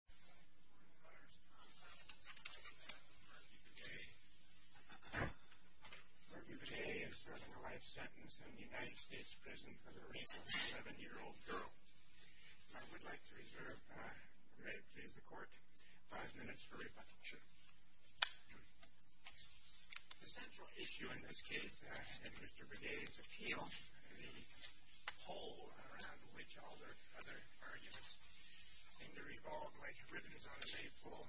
Murphy Begay is serving a life sentence in the United States prison for the rape of a 70-year-old girl. I would like to reserve the court five minutes for rebuttal. The central issue in this case and Mr. Begay's appeal and the poll around which all the other arguments seem to revolve like ribbons on a maypole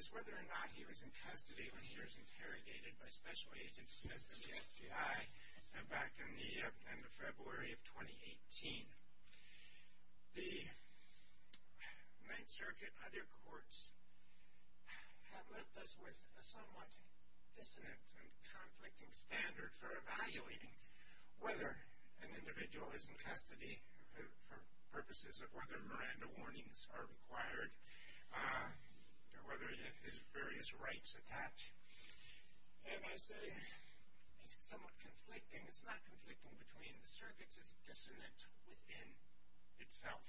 is whether or not he was in custody when he was interrogated by Special Agent Smith of the FBI back in the end of February of 2018. The Ninth Circuit and other courts have left us with a somewhat dissonant and conflicting standard for evaluating whether an individual is in custody for purposes of whether Miranda warnings are required or whether he has various rights attached. And I say it's somewhat conflicting. It's not conflicting between the circuits. It's dissonant within itself.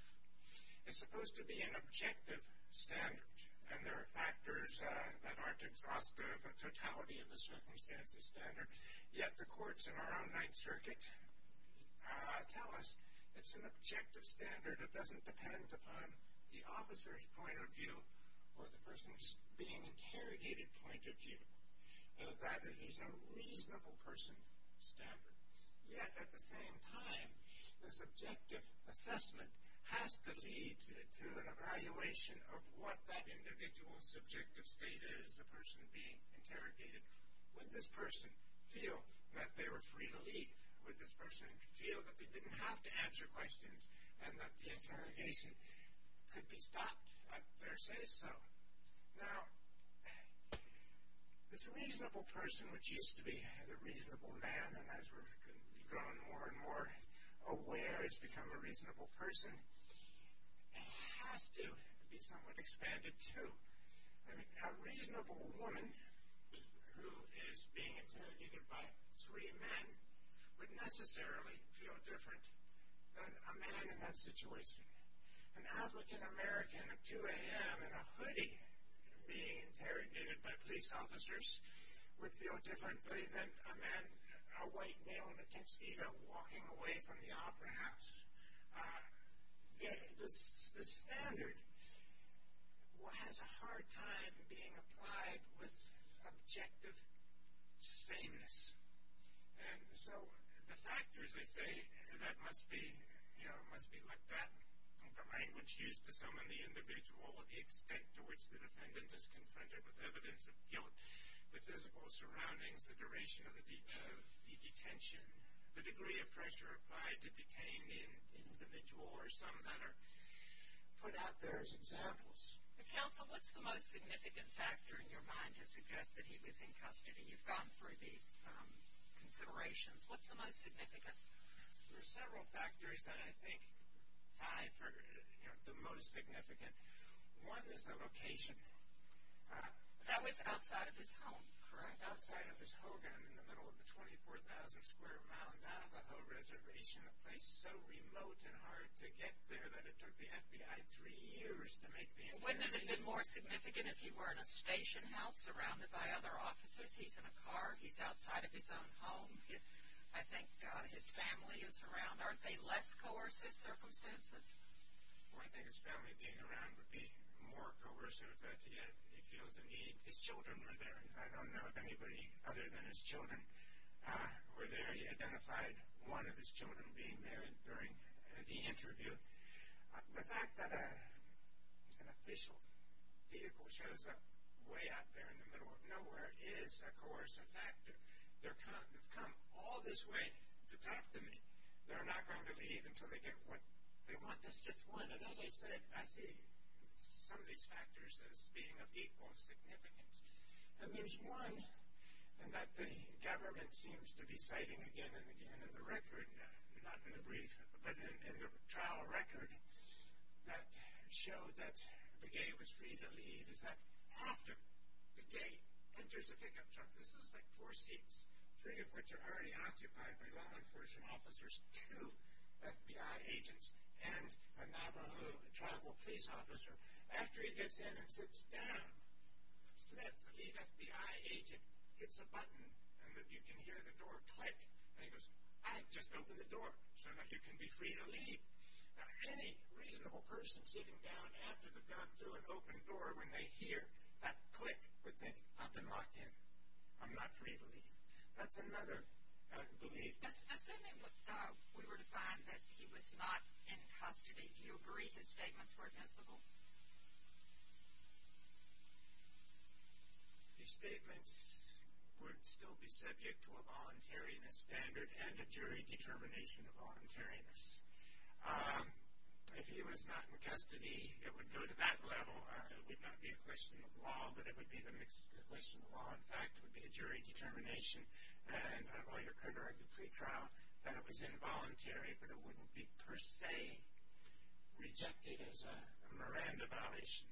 It's supposed to be an objective standard and there are factors that aren't exhaustive of totality of the circumstances standard. Yet the courts in our own Ninth Circuit tell us it's an objective standard. It doesn't depend upon the officer's point of view or the person's being interrogated point of view. That he's a reasonable person standard. Yet at the same time, the subjective assessment has to lead to an evaluation of what that individual's subjective state is, the person being interrogated. Would this person feel that they were free to leave? Would this person feel that they didn't have to answer questions and that the interrogation could be stopped? I'd better say so. Now, this reasonable person which used to be a reasonable man and as we've grown more and more aware has become a reasonable person, has to be somewhat expanded too. A reasonable woman who is being interrogated by three men would necessarily feel different than a man in that situation. An African American at 2 a.m. in a hoodie being interrogated by police officers would feel differently than a man, a white male in a tuxedo walking away from the opera house. The standard has a hard time being applied with objective sameness. And so, the factors I say that must be looked at. The language used to summon the individual, the extent to which the defendant is confronted with evidence of guilt, the physical surroundings, the duration of the detention, the degree of pressure applied to detain the individual or some that are put out there as examples. Counsel, what's the most significant factor in your mind to suggest that he was in custody? You've gone through these considerations. What's the most significant? There are several factors that I think tie for the most significant. One is the location. That was outside of his home, correct? Outside of his home in the middle of the 24,000 square mile Navajo reservation, a place so remote and hard to get there that it took the FBI three years to make the interrogation. Wouldn't it have been more significant if he were in a station house surrounded by other officers? He's in a car. He's outside of his own home. I think his family is around. Aren't they less coercive circumstances? Well, I think his family being around would be more coercive. His children were there. I don't know of anybody other than his children were there. He identified one of his children being there during the interview. The fact that an official vehicle shows up way out there in the middle of nowhere is, of course, a factor. They've come all this way to talk to me. They're not going to leave until they get what they want. That's just one. As I said, I see some of these factors as being of equal significance. There's one that the government seems to be citing again and again in the trial record that showed that Begay was free to leave. It's that after Begay enters a pickup truck, this is like four seats, three of which are already occupied by law enforcement officers, two FBI agents, and a Navajo tribal police officer. After he gets in and sits down, Smith, the lead FBI agent, hits a button, and you can hear the door click. He goes, I just opened the door so that you can be free to leave. Any reasonable person sitting down after they've gone through an open door, when they hear that click, would think, I've been locked in. I'm not free to leave. That's another belief. Assuming we were to find that he was not in custody, do you agree his statements were admissible? His statements would still be subject to a voluntariness standard and a jury determination of voluntariness. If he was not in custody, it would go to that level. It would not be a question of law, but it would be a question of law. In fact, it would be a jury determination. I've already occurred during the plea trial that it was involuntary, but it wouldn't be per se rejected as a Miranda violation.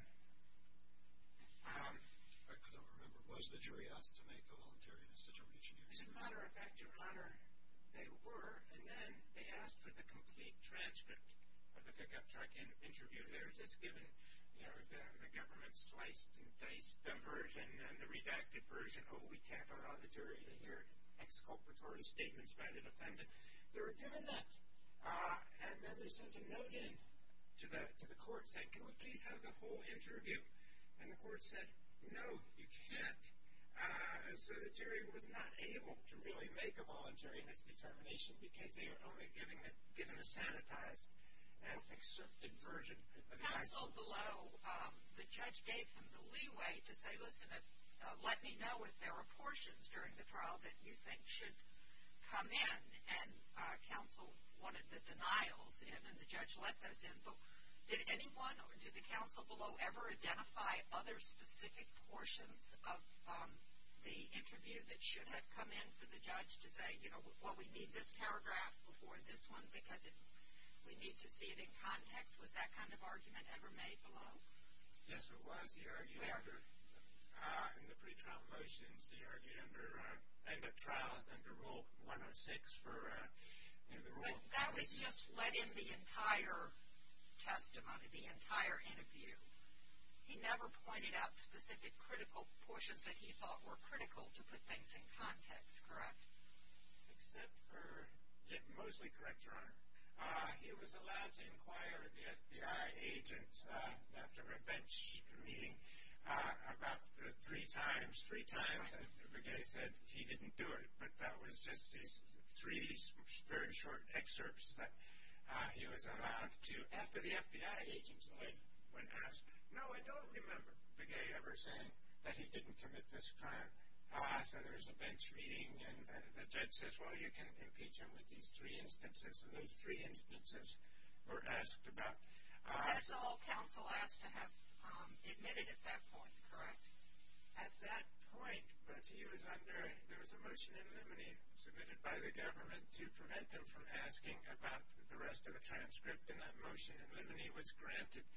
I don't remember. Was the jury asked to make a voluntariness determination? As a matter of fact, Your Honor, they were, and then they asked for the complete transcript of the pickup truck interview letters. The government sliced and diced the version and the redacted version. Oh, we can't allow the jury to hear exculpatory statements by the defendant. They were given that, and then they sent a note in to the court saying, can we please have the whole interview? And the court said, no, you can't. So the jury was not able to really make a voluntariness determination, because they were only given a sanitized and accepted version. Counsel below, the judge gave him the leeway to say, listen, let me know if there are portions during the trial that you think should come in. And counsel wanted the denials in, and the judge let those in. But did anyone or did the counsel below ever identify other specific portions of the interview that should have come in for the judge to say, you know, well, we need this paragraph before this one because we need to see it in context? Was that kind of argument ever made below? Yes, it was. He argued after, in the pretrial motions, he argued under, I think, a trial under Rule 106 for interview rules. But that was just, let in the entire testimony, the entire interview. He never pointed out specific critical portions that he thought were critical to put things in context, correct? Except for, mostly correct, Your Honor. He was allowed to inquire the FBI agent after a bench meeting about three times. Three times the guy said he didn't do it, but that was just his three very short excerpts that he was allowed to. So after the FBI agent went past, no, I don't remember the guy ever saying that he didn't commit this crime. So there was a bench meeting, and the judge says, well, you can impeach him with these three instances. And those three instances were asked about. That's all counsel asked to have admitted at that point, correct? At that point, but he was under, there was a motion in limine submitted by the government to prevent them from asking about the rest of the transcript in that motion. And limine was granted.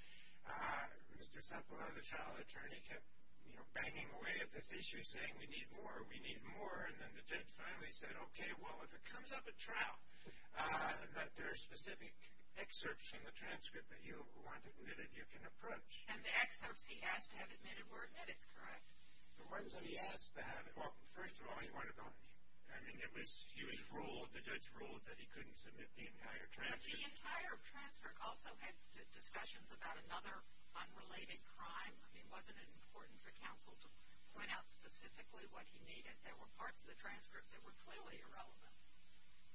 Mr. Sepulveda, the trial attorney, kept, you know, banging away at this issue, saying we need more, we need more. And then the judge finally said, okay, well, if it comes up at trial that there are specific excerpts from the transcript that you want admitted, you can approach. And the excerpts he asked to have admitted were admitted, correct? The ones that he asked to have, well, first of all, he wanted to punish him. I mean, it was, he was ruled, the judge ruled that he couldn't submit the entire transcript. But the entire transcript also had discussions about another unrelated crime. I mean, wasn't it important for counsel to point out specifically what he needed? There were parts of the transcript that were clearly irrelevant.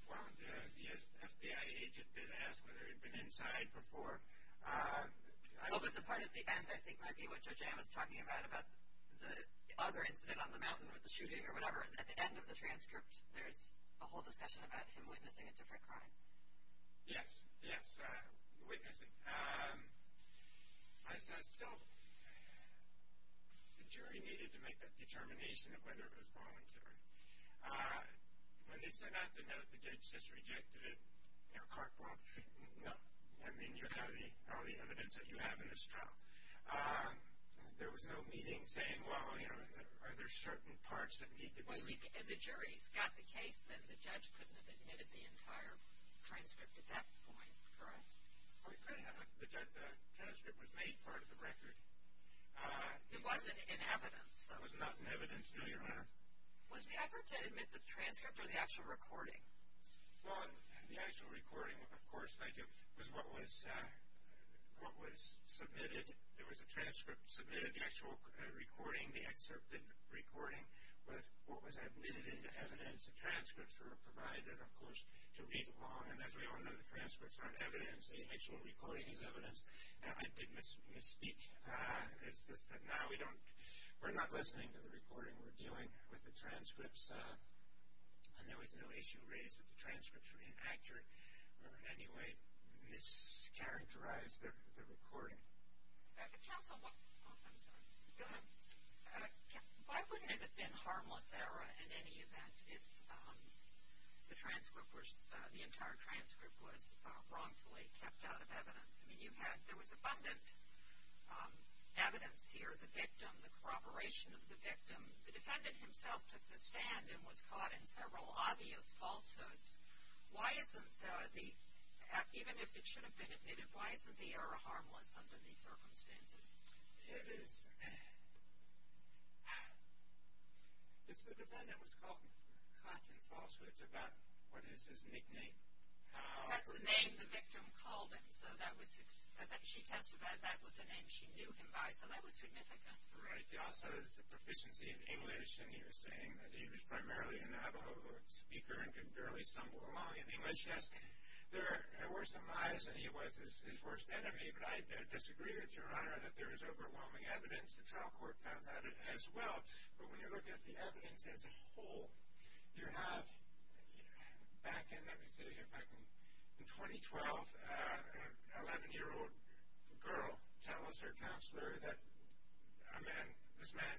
Well, the FBI agent did ask whether he'd been inside before. Well, but the part at the end, I think, Maggie, what Judge Ammons is talking about, the other incident on the mountain with the shooting or whatever, at the end of the transcript, there's a whole discussion about him witnessing a different crime. Yes, yes, witnessing. As I still, the jury needed to make that determination of whether it was voluntary. When they sent out the note, the judge just rejected it. You know, Corkwell, no. I mean, you have all the evidence that you have in this trial. There was no meeting saying, well, you know, are there certain parts that need to be... Well, and the jury's got the case that the judge couldn't have admitted the entire transcript at that point, correct? Well, he could have, but the transcript was made part of the record. It wasn't in evidence, though. It was not in evidence, no, Your Honor. Was the effort to admit the transcript or the actual recording? Well, the actual recording, of course, thank you, was what was submitted. There was a transcript submitted, the actual recording, the excerpted recording, was what was admitted into evidence, the transcripts were provided, of course, to read along. And as we all know, the transcripts aren't evidence. The actual recording is evidence. I did misspeak. It's just that now we're not listening to the recording. We're dealing with the transcripts, and there was no issue raised that the transcripts were inaccurate or in any way mischaracterized the recording. Counsel, what... I'm sorry. Go ahead. Why wouldn't it have been harmless error in any event if the transcript was... the entire transcript was wrongfully kept out of evidence? I mean, you had... there was abundant evidence here. The victim, the corroboration of the victim, the defendant himself took the stand and was caught in several obvious falsehoods. Why isn't the... even if it should have been admitted, why isn't the error harmless under these circumstances? It is... if the defendant was caught in falsehoods about what is his nickname... That's the name the victim called him, so that was... Right, he also has a proficiency in English, and you're saying that he was primarily a Navajo speaker and could barely stumble along in English. Yes, there were some lies, and he was his worst enemy, but I disagree with Your Honor that there is overwhelming evidence. The trial court found that as well, but when you look at the evidence as a whole, you have... back in... let me see if I can... A man... this man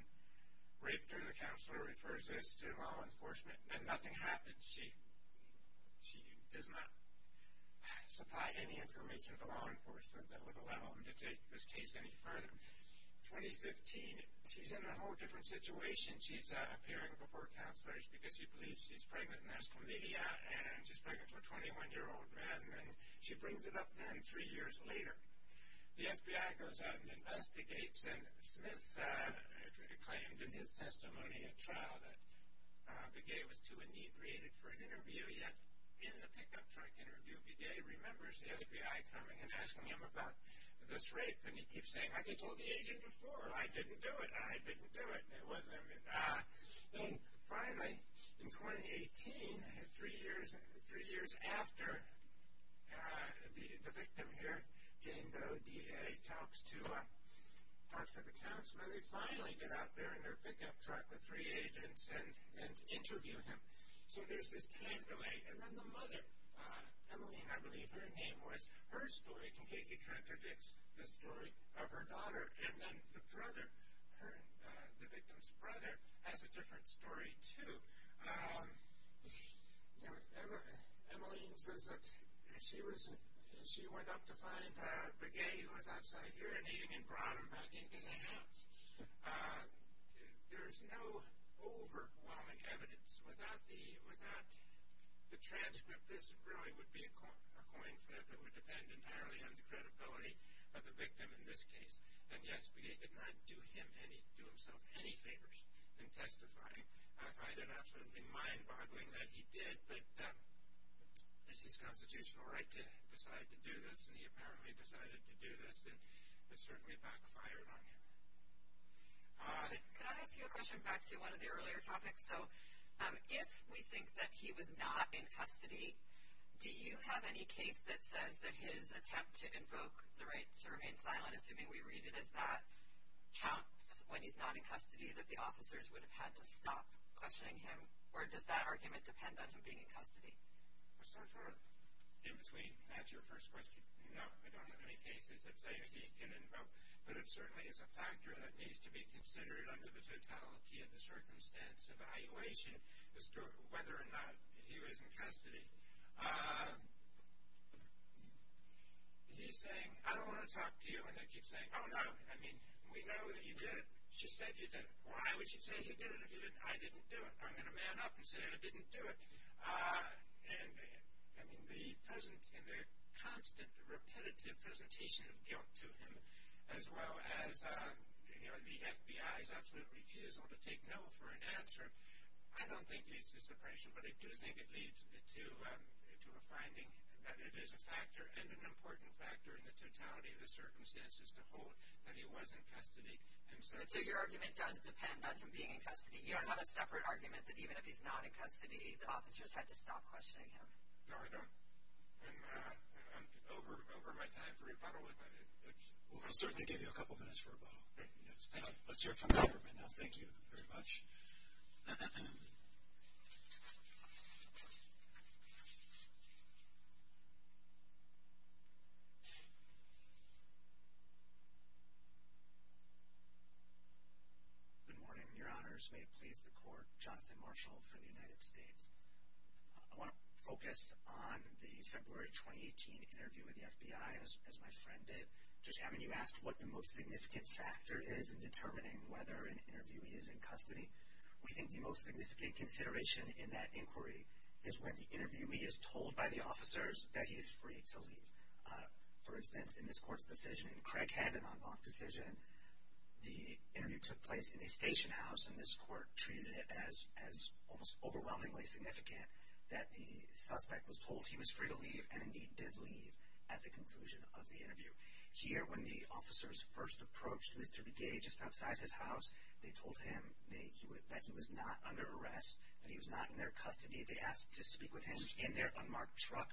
raped her. The counselor refers this to law enforcement, and nothing happened. She... she does not supply any information to law enforcement that would allow him to take this case any further. 2015, she's in a whole different situation. She's appearing before counselors because she believes she's pregnant, and there's comedia, and she's pregnant with a 21-year-old man, and she brings it up then three years later. The FBI goes out and investigates, and Smith claimed in his testimony at trial that Begay was too inebriated for an interview, yet in the pickup truck interview, Begay remembers the FBI coming and asking him about this rape, and he keeps saying, like I told the agent before, I didn't do it, I didn't do it. It wasn't... talks to the counselor. They finally get out there in their pickup truck with three agents and interview him. So there's this time delay. And then the mother, Emmeline, I believe her name was, her story completely contradicts the story of her daughter. And then the brother, the victim's brother, has a different story, too. Emmeline says that she went up to find Begay, who was outside urinating, and brought him back into the house. There's no overwhelming evidence. Without the transcript, this really would be a coin flip. It would depend entirely on the credibility of the victim in this case. And, yes, Begay did not do himself any favors in testifying. I find it absolutely mind-boggling that he did, but it's his constitutional right to decide to do this, and he apparently decided to do this, and it certainly backfired on him. Could I ask you a question back to one of the earlier topics? So if we think that he was not in custody, do you have any case that says that his attempt to invoke the right to remain silent, assuming we read it as that, counts when he's not in custody that the officers would have had to stop questioning him, or does that argument depend on him being in custody? I'll start in between. That's your first question. No, I don't have any cases that say he can invoke, but it certainly is a factor that needs to be considered under the totality of the circumstance evaluation as to whether or not he was in custody. He's saying, I don't want to talk to you, and I keep saying, oh, no, I mean, we know that you did it. She said you did it. Why would she say you did it if you didn't? I didn't do it. I'm going to man up and say I didn't do it. And, I mean, the constant, repetitive presentation of guilt to him, as well as, you know, the FBI's absolute refusal to take no for an answer, I don't think leads to suppression, but I do think it leads to a finding that it is a factor in the totality of the circumstances to hold that he was in custody. So your argument does depend on him being in custody. You don't have a separate argument that even if he's not in custody, the officers had to stop questioning him. No, I don't. I'm over my time for rebuttal. Well, I'll certainly give you a couple minutes for rebuttal. Let's hear from the government now. Thank you very much. Good morning, Your Honors. May it please the Court. Jonathan Marshall for the United States. I want to focus on the February 2018 interview with the FBI, as my friend did. Judge Hammond, you asked what the most significant factor is in determining whether an interviewee is in custody. We think the most significant consideration in that inquiry is when the interviewee is told by the officers that he is free to leave. For instance, in this Court's decision, Craig had an en banc decision. The interview took place in a station house, and this Court treated it as almost overwhelmingly significant that the suspect was told he was free to leave, and indeed did leave at the conclusion of the interview. Here, when the officers first approached Mr. Begay just outside his house, they told him that he was not under arrest, that he was not in their custody. They asked to speak with him in their unmarked truck,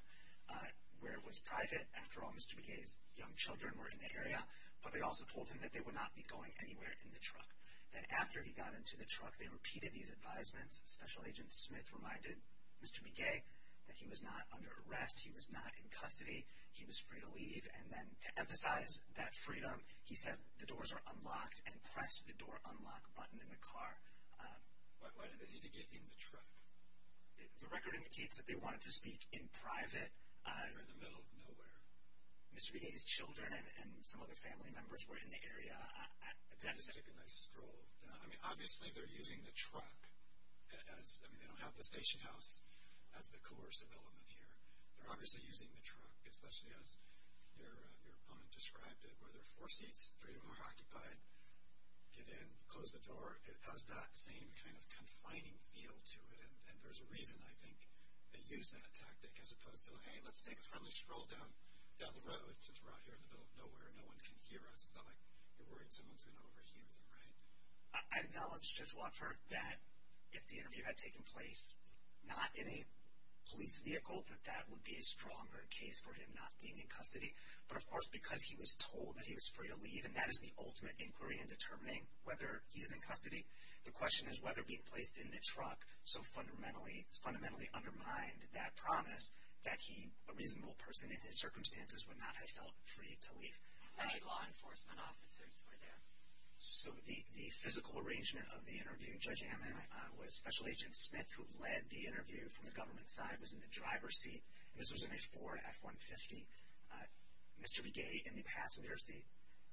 where it was private. After all, Mr. Begay's young children were in the area. But they also told him that they would not be going anywhere in the truck. Then after he got into the truck, they repeated these advisements. Special Agent Smith reminded Mr. Begay that he was not under arrest, he was not in custody, he was free to leave, and then to emphasize that freedom, he said the doors are unlocked and pressed the door unlock button in the car. Why did they need to get in the truck? The record indicates that they wanted to speak in private. They were in the middle of nowhere. Mr. Begay's children and some other family members were in the area. They just took a nice stroll. I mean, obviously they're using the truck as, I mean, they don't have the station house as the coercive element here. They're obviously using the truck, especially as your opponent described it, where there are four seats, three of them are occupied, get in, close the door. It has that same kind of confining feel to it, and there's a reason, I think, they used that tactic as opposed to, hey, let's take a friendly stroll down the road since we're out here in the middle of nowhere and no one can hear us. It's not like you're worried someone's going to overhear them, right? I acknowledge, Judge Wofford, that if the interview had taken place not in a police vehicle, that that would be a stronger case for him not being in custody. But, of course, because he was told that he was free to leave, and that is the ultimate inquiry in determining whether he is in custody, the question is whether being placed in the truck so fundamentally undermined that promise that a reasonable person in his circumstances would not have felt free to leave. Any law enforcement officers were there? So the physical arrangement of the interview, Judge Amman, I thought, Special Agent Smith, who led the interview from the government side, was in the driver's seat. This was in a Ford F-150. Mr. Legay in the passenger seat.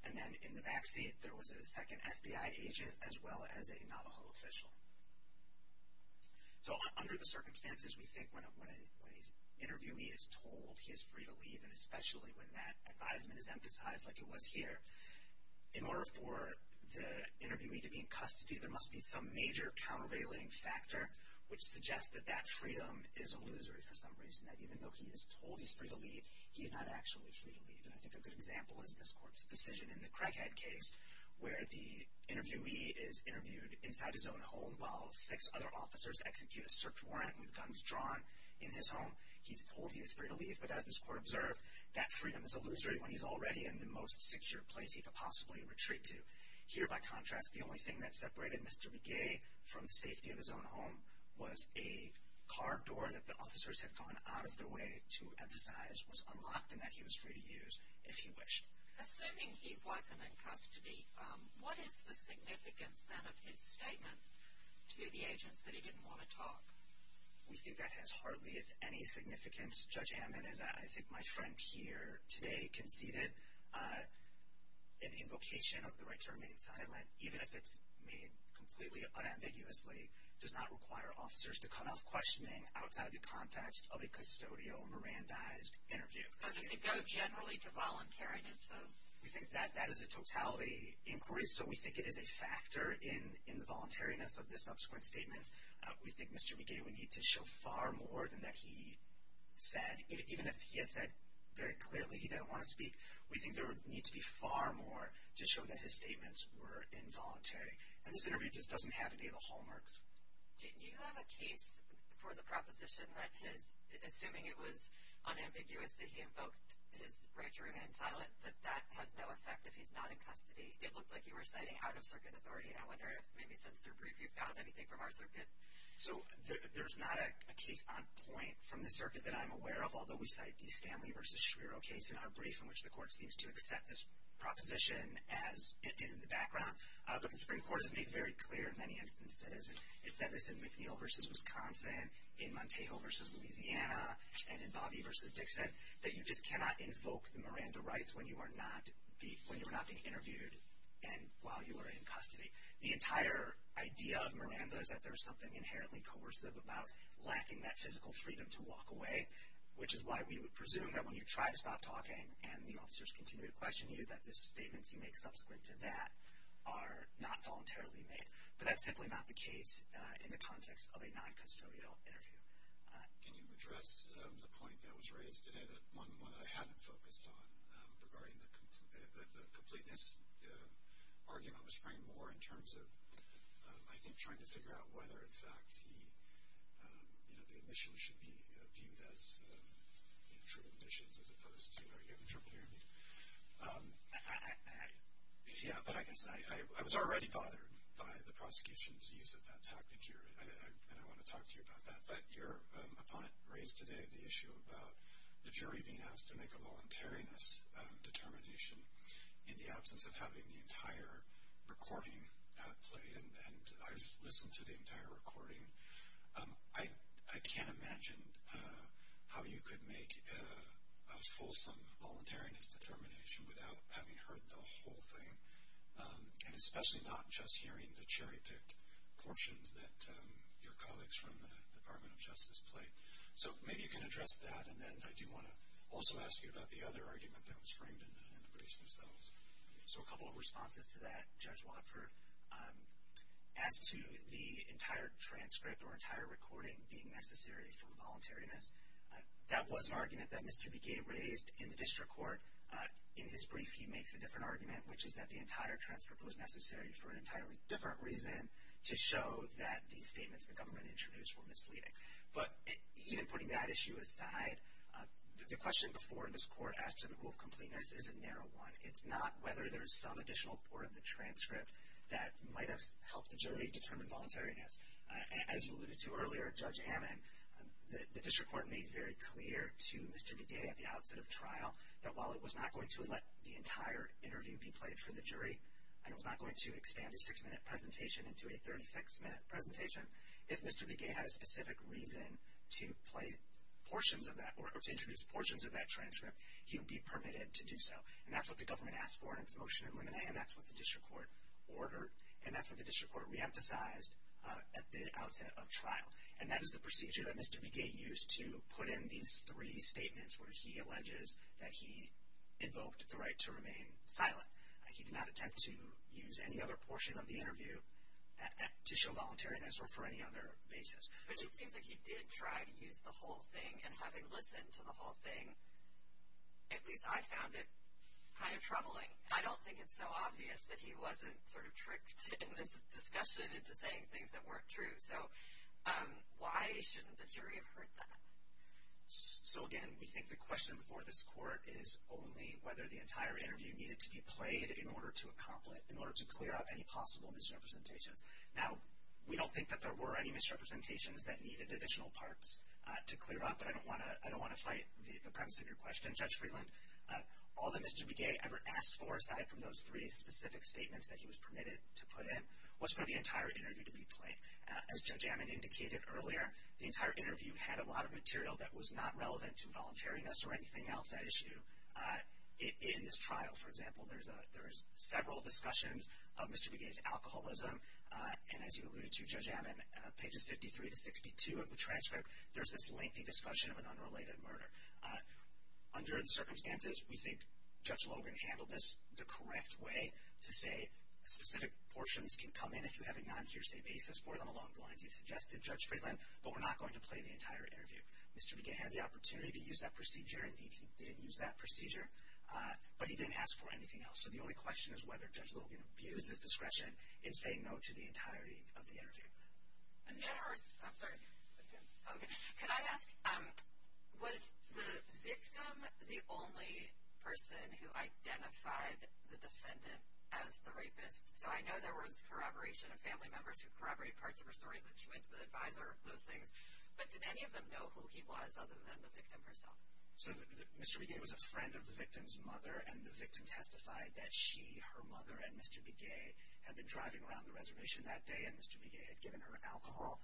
And then in the backseat, there was a second FBI agent as well as a Navajo official. So under the circumstances, we think when an interviewee is told he is free to leave, and especially when that advisement is emphasized like it was here, in order for the interviewee to be in custody, there must be some major countervailing factor which suggests that that freedom is illusory for some reason, that even though he is told he is free to leave, he is not actually free to leave. And I think a good example is this court's decision in the Craighead case where the interviewee is interviewed inside his own home while six other officers execute a search warrant with guns drawn in his home. He is told he is free to leave, but as this court observed, that freedom is illusory when he is already in the most secure place he could possibly retreat to. Here, by contrast, the only thing that separated Mr. Legay from the safety of his own home was a car door that the officers had gone out of their way to emphasize was unlocked and that he was free to use if he wished. Assuming he wasn't in custody, what is the significance then of his statement to the agents that he didn't want to talk? We think that has hardly any significance. Judge Amman, as I think my friend here today conceded, an invocation of the right to remain silent, even if it's made completely unambiguously, does not require officers to cut off questioning outside the context of a custodial, mirandized interview. Does it go generally to voluntariness, though? We think that that is a totality inquiry, so we think it is a factor in the voluntariness of the subsequent statements. We think Mr. Legay would need to show far more than that he said. Even if he had said very clearly he didn't want to speak, we think there would need to be far more to show that his statements were involuntary. And this interview just doesn't have any of the hallmarks. Do you have a case for the proposition that his, assuming it was unambiguous that he invoked his right to remain silent, that that has no effect if he's not in custody? It looked like you were citing out-of-circuit authority. I wonder if maybe since they're brief, you've found anything from our circuit. So there's not a case on point from the circuit that I'm aware of, although we cite the Stanley v. Shiro case in our brief, in which the court seems to accept this proposition in the background. But the Supreme Court has made very clear in many instances, it said this in McNeil v. Wisconsin, in Montejo v. Louisiana, and in Bobby v. Dixon, that you just cannot invoke the Miranda rights when you are not being interviewed and while you are in custody. The entire idea of Miranda is that there is something inherently coercive about lacking that physical freedom to walk away, which is why we would presume that when you try to stop talking and the officers continue to question you, that the statements you make subsequent to that are not voluntarily made. But that's simply not the case in the context of a non-custodial interview. Can you address the point that was raised today, one that I haven't focused on regarding the completeness argument was framed more in terms of, I think, trying to figure out whether, in fact, the admission should be viewed as true admissions as opposed to an interpreter. Yeah, but I guess I was already bothered by the prosecution's use of that tactic here, and I want to talk to you about that. But your opponent raised today the issue about the jury being asked to make a voluntariness determination in the absence of having the entire recording played. And I've listened to the entire recording. I can't imagine how you could make a fulsome voluntariness determination without having heard the whole thing, and especially not just hearing the cherry-picked portions that your colleagues from the Department of Justice play. So maybe you can address that. And then I do want to also ask you about the other argument that was framed in the briefs themselves. So a couple of responses to that, Judge Watford. As to the entire transcript or entire recording being necessary for voluntariness, that was an argument that Mr. Begay raised in the district court. In his brief, he makes a different argument, which is that the entire transcript was necessary for an entirely different reason to show that the statements the government introduced were misleading. But even putting that issue aside, the question before this court as to the rule of completeness is a narrow one. It's not whether there's some additional part of the transcript that might have helped the jury determine voluntariness. As you alluded to earlier, Judge Amman, the district court made very clear to Mr. Begay at the outset of trial that while it was not going to let the entire interview be played for the jury and it was not going to expand a six-minute presentation into a 36-minute presentation, if Mr. Begay had a specific reason to play portions of that or to introduce portions of that transcript, he would be permitted to do so. And that's what the government asked for in its motion in Limine. And that's what the district court ordered. And that's what the district court reemphasized at the outset of trial. And that is the procedure that Mr. Begay used to put in these three statements where he alleges that he invoked the right to remain silent. He did not attempt to use any other portion of the interview to show voluntariness or for any other basis. But it seems like he did try to use the whole thing. And having listened to the whole thing, at least I found it kind of troubling. I don't think it's so obvious that he wasn't sort of tricked in this discussion into saying things that weren't true. So why shouldn't the jury have heard that? So, again, we think the question before this court is only whether the entire interview needed to be played in order to clear up any possible misrepresentations. Now, we don't think that there were any misrepresentations that needed additional parts to clear up, but I don't want to fight the premise of your question. Judge Freeland, all that Mr. Begay ever asked for, aside from those three specific statements that he was permitted to put in, was for the entire interview to be played. As Judge Ammon indicated earlier, the entire interview had a lot of material that was not relevant to voluntariness or anything else at issue. In this trial, for example, there's several discussions of Mr. Begay's alcoholism. And as you alluded to, Judge Ammon, pages 53 to 62 of the transcript, there's this lengthy discussion of an unrelated murder. Under the circumstances, we think Judge Logan handled this the correct way to say specific portions can come in if you have a non-hearsay basis for them along the lines you suggested, Judge Freeland, but we're not going to play the entire interview. Mr. Begay had the opportunity to use that procedure. Indeed, he did use that procedure, but he didn't ask for anything else. So the only question is whether Judge Logan abused his discretion in saying no to the entirety of the interview. Can I ask, was the victim the only person who identified the defendant as the rapist? So I know there was corroboration of family members who corroborated parts of her story, but she went to the advisor, those things. But did any of them know who he was other than the victim herself? So Mr. Begay was a friend of the victim's mother, and the victim testified that she, her mother, and Mr. Begay had been driving around the reservation that day, and Mr. Begay had given her alcohol.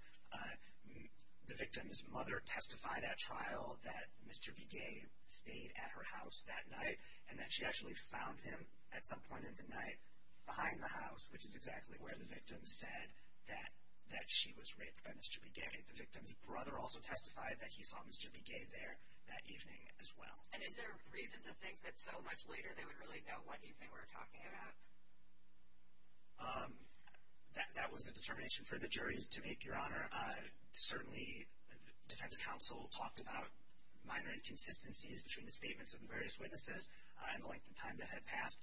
The victim's mother testified at trial that Mr. Begay stayed at her house that night, and that she actually found him at some point in the night behind the house, which is exactly where the victim said that she was raped by Mr. Begay. The victim's brother also testified that he saw Mr. Begay there that evening as well. And is there reason to think that so much later they would really know what evening we're talking about? That was a determination for the jury to make, Your Honor. Certainly, defense counsel talked about minor inconsistencies between the statements of the various witnesses and the length of time that had passed.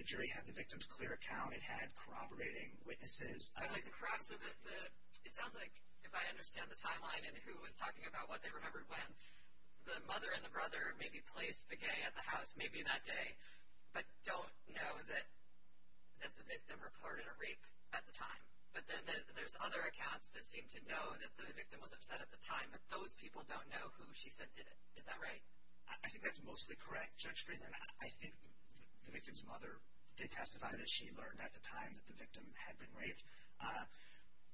The jury had the victim's clear account. It had corroborating witnesses. I'd like to corroborate. So it sounds like if I understand the timeline and who was talking about what they remembered when, the mother and the brother maybe placed Begay at the house maybe that day but don't know that the victim reported a rape at the time. But then there's other accounts that seem to know that the victim was upset at the time, but those people don't know who she said did it. Is that right? I think that's mostly correct, Judge Friedland. I think the victim's mother did testify that she learned at the time that the victim had been raped.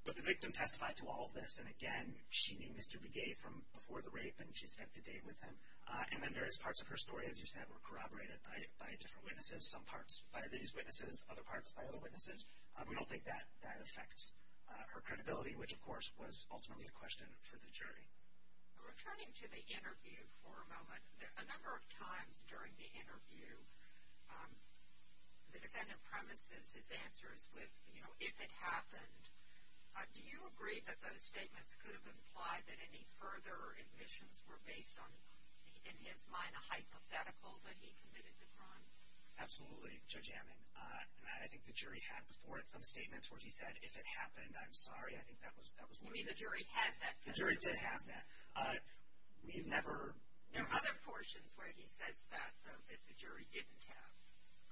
But the victim testified to all this, and again, she knew Mr. Begay from before the rape, and she spent the day with him. And then various parts of her story, as you said, were corroborated. By different witnesses, some parts by these witnesses, other parts by other witnesses. We don't think that affects her credibility, which, of course, was ultimately a question for the jury. Returning to the interview for a moment, a number of times during the interview, the defendant premises his answers with, you know, if it happened. Do you agree that those statements could have implied that any further admissions were based on, in his mind, a hypothetical that he committed the crime? Absolutely, Judge Amman. And I think the jury had before it some statements where he said, if it happened, I'm sorry. I think that was one of them. You mean the jury had that testimony? The jury did have that. We've never... There are other portions where he says that, though, that the jury didn't have,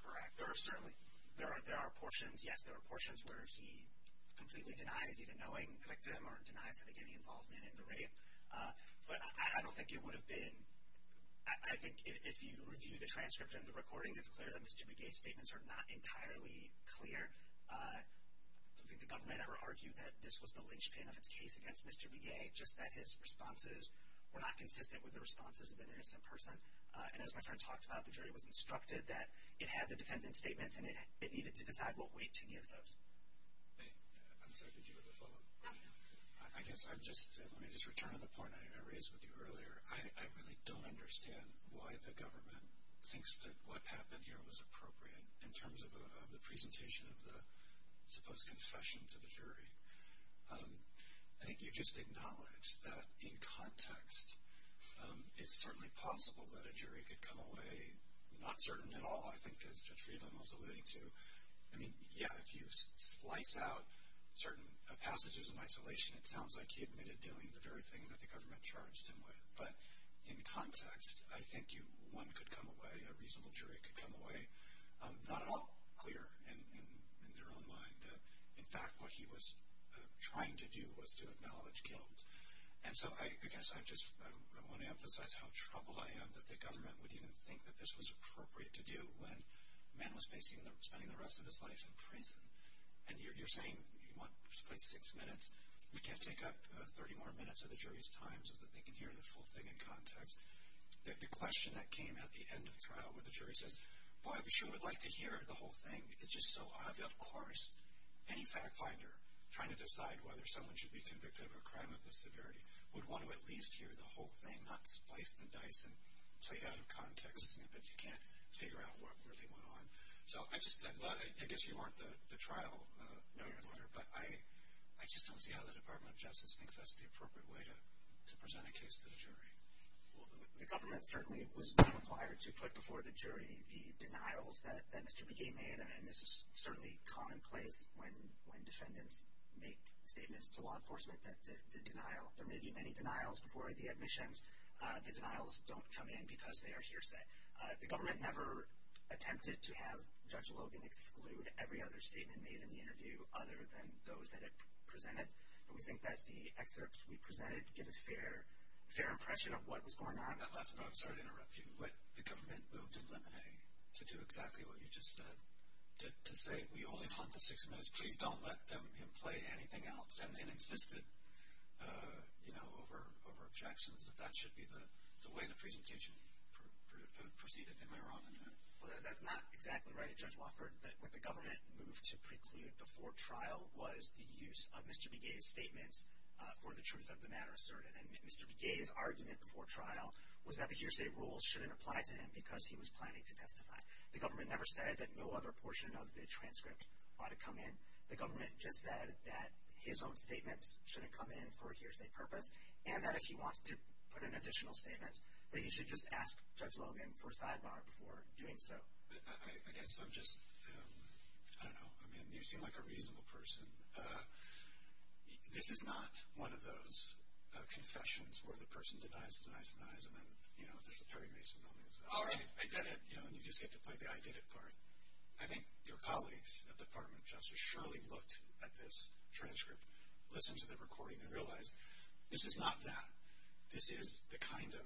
correct? There are certainly... there are portions, yes. There are portions where he completely denies even knowing the victim or denies him getting involved in the rape. But I don't think it would have been... I think if you review the transcript and the recording, it's clear that Mr. Begay's statements are not entirely clear. I don't think the government ever argued that this was the linchpin of its case against Mr. Begay, just that his responses were not consistent with the responses of an innocent person. And as my friend talked about, the jury was instructed that it had the defendant's statement and it needed to decide what weight to give those. I'm sorry. Did you have a follow-up? No. I guess I'm just... let me just return to the point I raised with you earlier. I really don't understand why the government thinks that what happened here was appropriate in terms of the presentation of the supposed confession to the jury. I think you just acknowledged that in context it's certainly possible that a jury could come away not certain at all, I think as Judge Friedland was alluding to. I mean, yeah, if you slice out certain passages in isolation, it sounds like he admitted doing the very thing that the government charged him with. But in context, I think one could come away, a reasonable jury could come away, not at all clear in their own mind that, in fact, what he was trying to do was to acknowledge guilt. And so I guess I just want to emphasize how troubled I am that the government would even think that this was appropriate to do when a man was spending the rest of his life in prison. And you're saying you want at least six minutes. We can't take up 30 more minutes of the jury's time so that they can hear the full thing in context. The question that came at the end of trial where the jury says, boy, I sure would like to hear the whole thing, it's just so obvious. Of course, any fact finder trying to decide whether someone should be convicted of a crime of this severity would want to at least hear the whole thing, not spliced and diced and played out of context snippets. You can't figure out what really went on. So I guess you aren't the trial noted lawyer, but I just don't see how the Department of Justice thinks that's the appropriate way to present a case to the jury. Well, the government certainly was not required to put before the jury the denials that Mr. McGee made. And this is certainly commonplace when defendants make statements to law enforcement that the denial, there may be many denials before the admissions, the denials don't come in because they are hearsay. The government never attempted to have Judge Logan exclude every other statement made in the interview other than those that it presented. And we think that the excerpts we presented give a fair impression of what was going on. Last one. I'm sorry to interrupt you, but the government moved in Lemonade to do exactly what you just said, to say we only have time for six minutes. Please don't let him play anything else. And they insisted, you know, over objections that that should be the way the presentation proceeded. Am I wrong on that? Well, that's not exactly right, Judge Wofford. What the government moved to preclude before trial was the use of Mr. McGee's statements for the truth of the matter asserted. And Mr. McGee's argument before trial was that the hearsay rules shouldn't apply to him because he was planning to testify. The government never said that no other portion of the transcript ought to come in. The government just said that his own statements shouldn't come in for a hearsay purpose and that if he wants to put in additional statements that he should just ask Judge Logan for a sidebar before doing so. I guess I'm just, I don't know. I mean, you seem like a reasonable person. This is not one of those confessions where the person denies, denies, denies, and then, you know, there's a Perry Mason moment. All right, I get it, you know, and you just get to play the I get it part. I think your colleagues at the Department of Justice surely looked at this transcript, listened to the recording, and realized this is not that. This is the kind of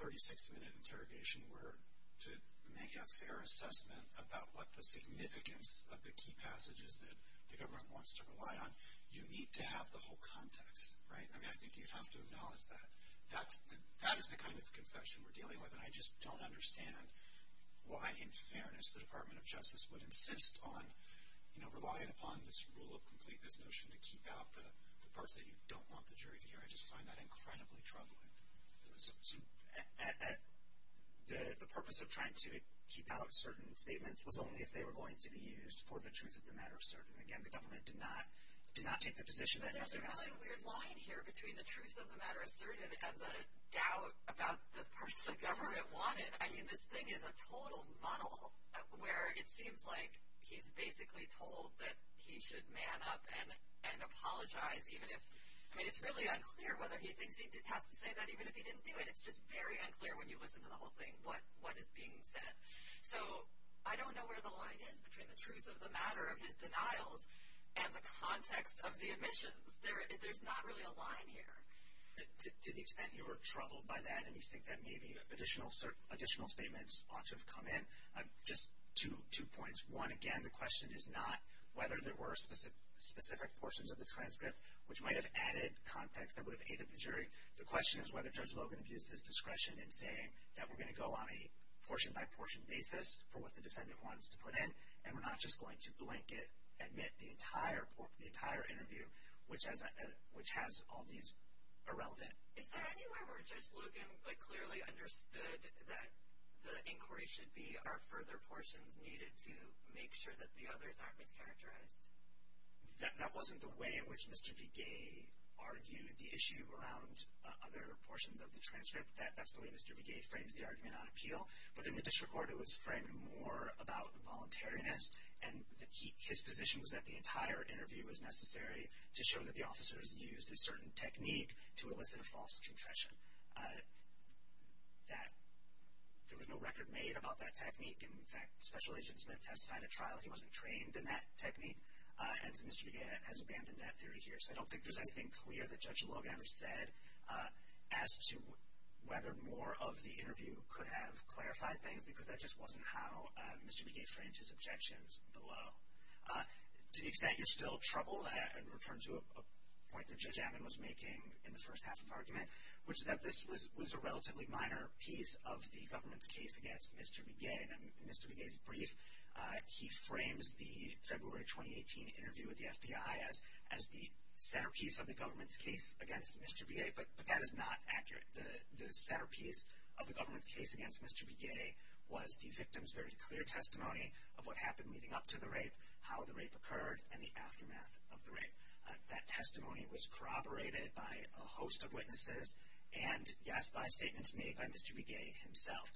36-minute interrogation where to make a fair assessment about what the significance of the key passages that the government wants to rely on, you need to have the whole context, right? I mean, I think you'd have to acknowledge that. That is the kind of confession we're dealing with. And I just don't understand why, in fairness, the Department of Justice would insist on, you know, relying upon this rule of completeness notion to keep out the parts that you don't want the jury to hear. I just find that incredibly troubling. So the purpose of trying to keep out certain statements was only if they were going to be used for the truth of the matter asserted. And, again, the government did not take the position that nothing else. There's a really weird line here between the truth of the matter asserted and the doubt about the parts the government wanted. I mean, this thing is a total muddle where it seems like he's basically told that he should man up and apologize even if – I mean, it's really unclear whether he thinks he has to say that even if he didn't do it. It's just very unclear when you listen to the whole thing what is being said. So I don't know where the line is between the truth of the matter of his denials and the context of the admissions. There's not really a line here. To the extent you were troubled by that and you think that maybe additional statements ought to have come in, just two points. One, again, the question is not whether there were specific portions of the transcript which might have added context that would have aided the jury. The question is whether Judge Logan abused his discretion in saying that we're going to go on a portion-by-portion basis for what the defendant wants to put in and we're not just going to blanket admit the entire interview, which has all these irrelevant – Is there anywhere where Judge Logan clearly understood that the inquiry should be are further portions needed to make sure that the others aren't mischaracterized? That wasn't the way in which Mr. Begay argued the issue around other portions of the transcript. That's the way Mr. Begay frames the argument on appeal. But in the district court, it was framed more about voluntariness. And his position was that the entire interview was necessary to show that the officers used a certain technique to elicit a false confession. There was no record made about that technique. In fact, Special Agent Smith testified at trial he wasn't trained in that technique. And so Mr. Begay has abandoned that theory here. So I don't think there's anything clear that Judge Logan ever said as to whether more of the interview could have clarified things, because that just wasn't how Mr. Begay framed his objections below. To the extent you're still troubled, I'd return to a point that Judge Ammon was making in the first half of argument, which is that this was a relatively minor piece of the government's case against Mr. Begay. In Mr. Begay's brief, he frames the February 2018 interview with the FBI as the centerpiece of the government's case against Mr. Begay. But that is not accurate. The centerpiece of the government's case against Mr. Begay was the victim's very clear testimony of what happened leading up to the rape, how the rape occurred, and the aftermath of the rape. That testimony was corroborated by a host of witnesses and, yes, by statements made by Mr. Begay himself.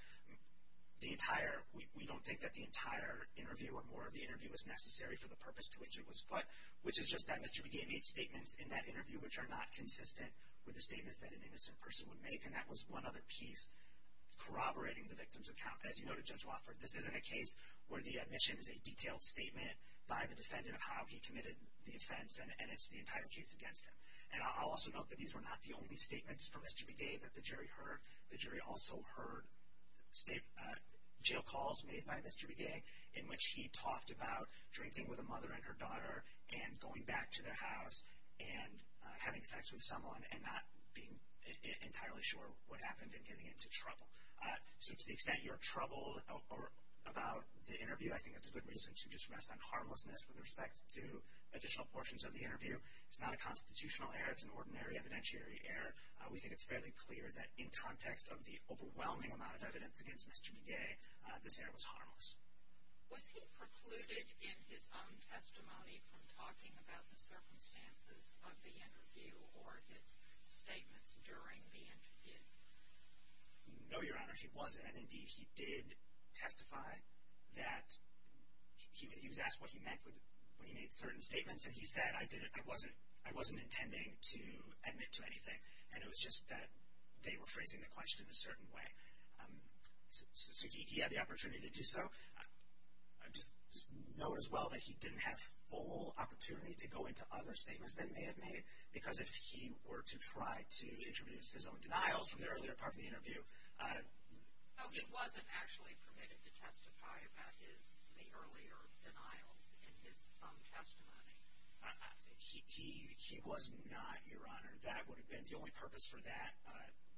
We don't think that the entire interview or more of the interview was necessary for the purpose to which it was put, which is just that Mr. Begay made statements in that interview which are not consistent with the statements that an innocent person would make, and that was one other piece corroborating the victim's account. As you noted, Judge Wofford, this isn't a case where the admission is a detailed statement by the defendant of how he committed the offense, and it's the entire case against him. And I'll also note that these were not the only statements from Mr. Begay that the jury heard. Jail calls made by Mr. Begay in which he talked about drinking with a mother and her daughter and going back to their house and having sex with someone and not being entirely sure what happened and getting into trouble. So to the extent you're troubled about the interview, I think it's a good reason to just rest on harmlessness with respect to additional portions of the interview. It's not a constitutional error. It's an ordinary evidentiary error. We think it's fairly clear that in context of the overwhelming amount of evidence against Mr. Begay, this error was harmless. Was he precluded in his own testimony from talking about the circumstances of the interview or his statements during the interview? No, Your Honor, he wasn't. And indeed, he did testify that he was asked what he meant when he made certain statements, and he said, I wasn't intending to admit to anything, and it was just that they were phrasing the question a certain way. So he had the opportunity to do so. Just note as well that he didn't have full opportunity to go into other statements than may have made because if he were to try to introduce his own denials from the earlier part of the interview. So he wasn't actually permitted to testify about the earlier denials in his own testimony? He was not, Your Honor. That would have been the only purpose for that,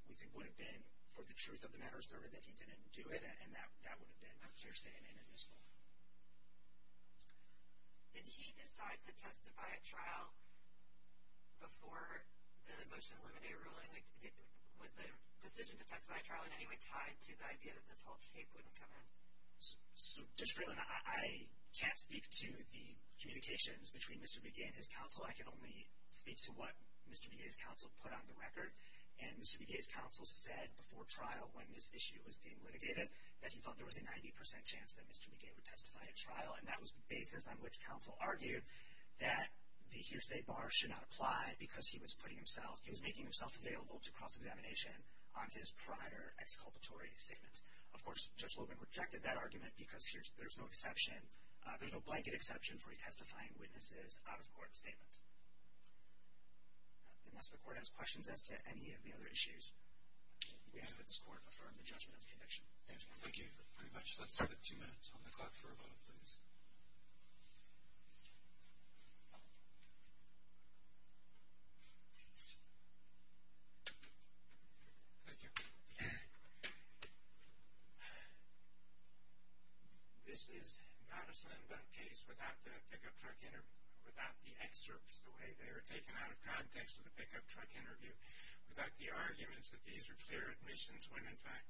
we think, would have been for the truth of the matter asserted that he didn't do it, and that would have been hearsay and inadmissible. Did he decide to testify at trial before the motion to eliminate a ruling? Was the decision to testify at trial in any way tied to the idea that this whole case wouldn't come in? So, Judge Freeland, I can't speak to the communications between Mr. Begay and his counsel. I can only speak to what Mr. Begay's counsel put on the record, and Mr. Begay's counsel said before trial when this issue was being litigated that he thought there was a 90 percent chance that Mr. Begay would testify at trial, and that was the basis on which counsel argued that the hearsay bar should not apply because he was making himself available to cross-examination on his prior exculpatory statements. Of course, Judge Logan rejected that argument because there's no blanket exception for he testifying witnesses out-of-court statements. Unless the Court has questions as to any of the other issues, we ask that this Court affirm the judgment of the conviction. Thank you. Thank you very much. Let's have it two minutes on the clock for a vote, please. Thank you. This is not a stand-by case without the pick-up truck interview, without the excerpts, the way they were taken out of context of the pick-up truck interview, without the arguments that these are clear admissions when, in fact,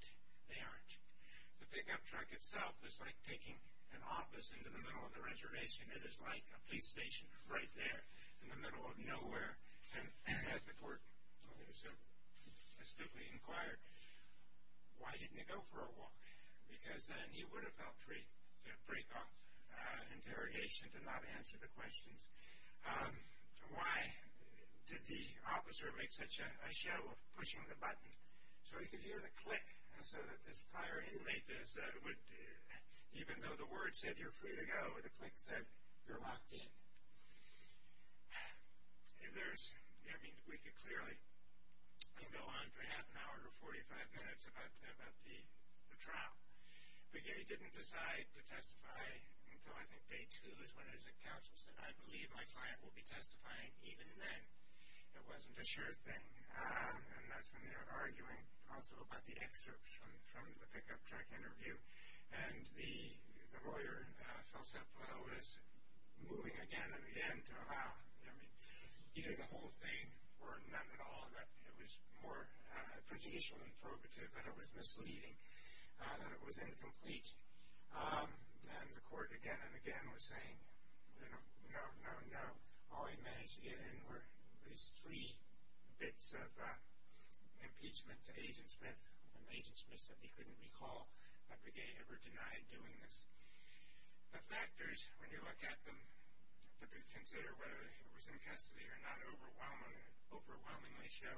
they aren't. The pick-up truck itself is like taking an office into the middle of the reservation. It is like a police station right there in the middle of nowhere. And as the Court specifically inquired, why didn't he go for a walk? Because then he would have felt free to break off interrogation, to not answer the questions. Why did the officer make such a show of pushing the button? So he could hear the click, so that this prior inmate, even though the word said, you're free to go, the click said, you're locked in. We could clearly go on for half an hour or 45 minutes about the trial. But yet he didn't decide to testify until, I think, day two is when the counsel said, I believe my client will be testifying even then. It wasn't a sure thing. And that's when they were arguing also about the excerpts from the pick-up truck interview. And the lawyer, Felser-Perot, was moving again and again to allow, I mean, either the whole thing or none at all, that it was more prudential and prerogative, that it was misleading, that it was incomplete. And the court again and again was saying, no, no, no. All he managed to get in were these three bits of impeachment to Agent Smith. And Agent Smith said he couldn't recall that Breguet ever denied doing this. The factors, when you look at them, to consider whether he was in custody or not overwhelmingly show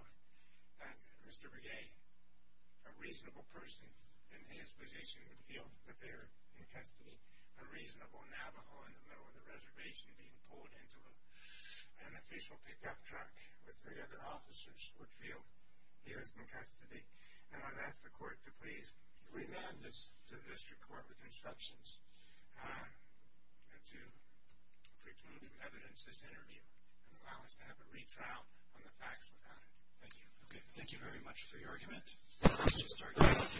that Mr. Breguet, a reasonable person in his position, would feel that they were in custody. A reasonable Navajo in the middle of the reservation being pulled into an official pick-up truck with three other officers would feel he was in custody. And I've asked the court to please remand this to the district court with instructions to preclude from evidence this interview and allow us to have a retrial on the facts without it. Thank you. Okay, thank you very much for your argument. Let's just start this.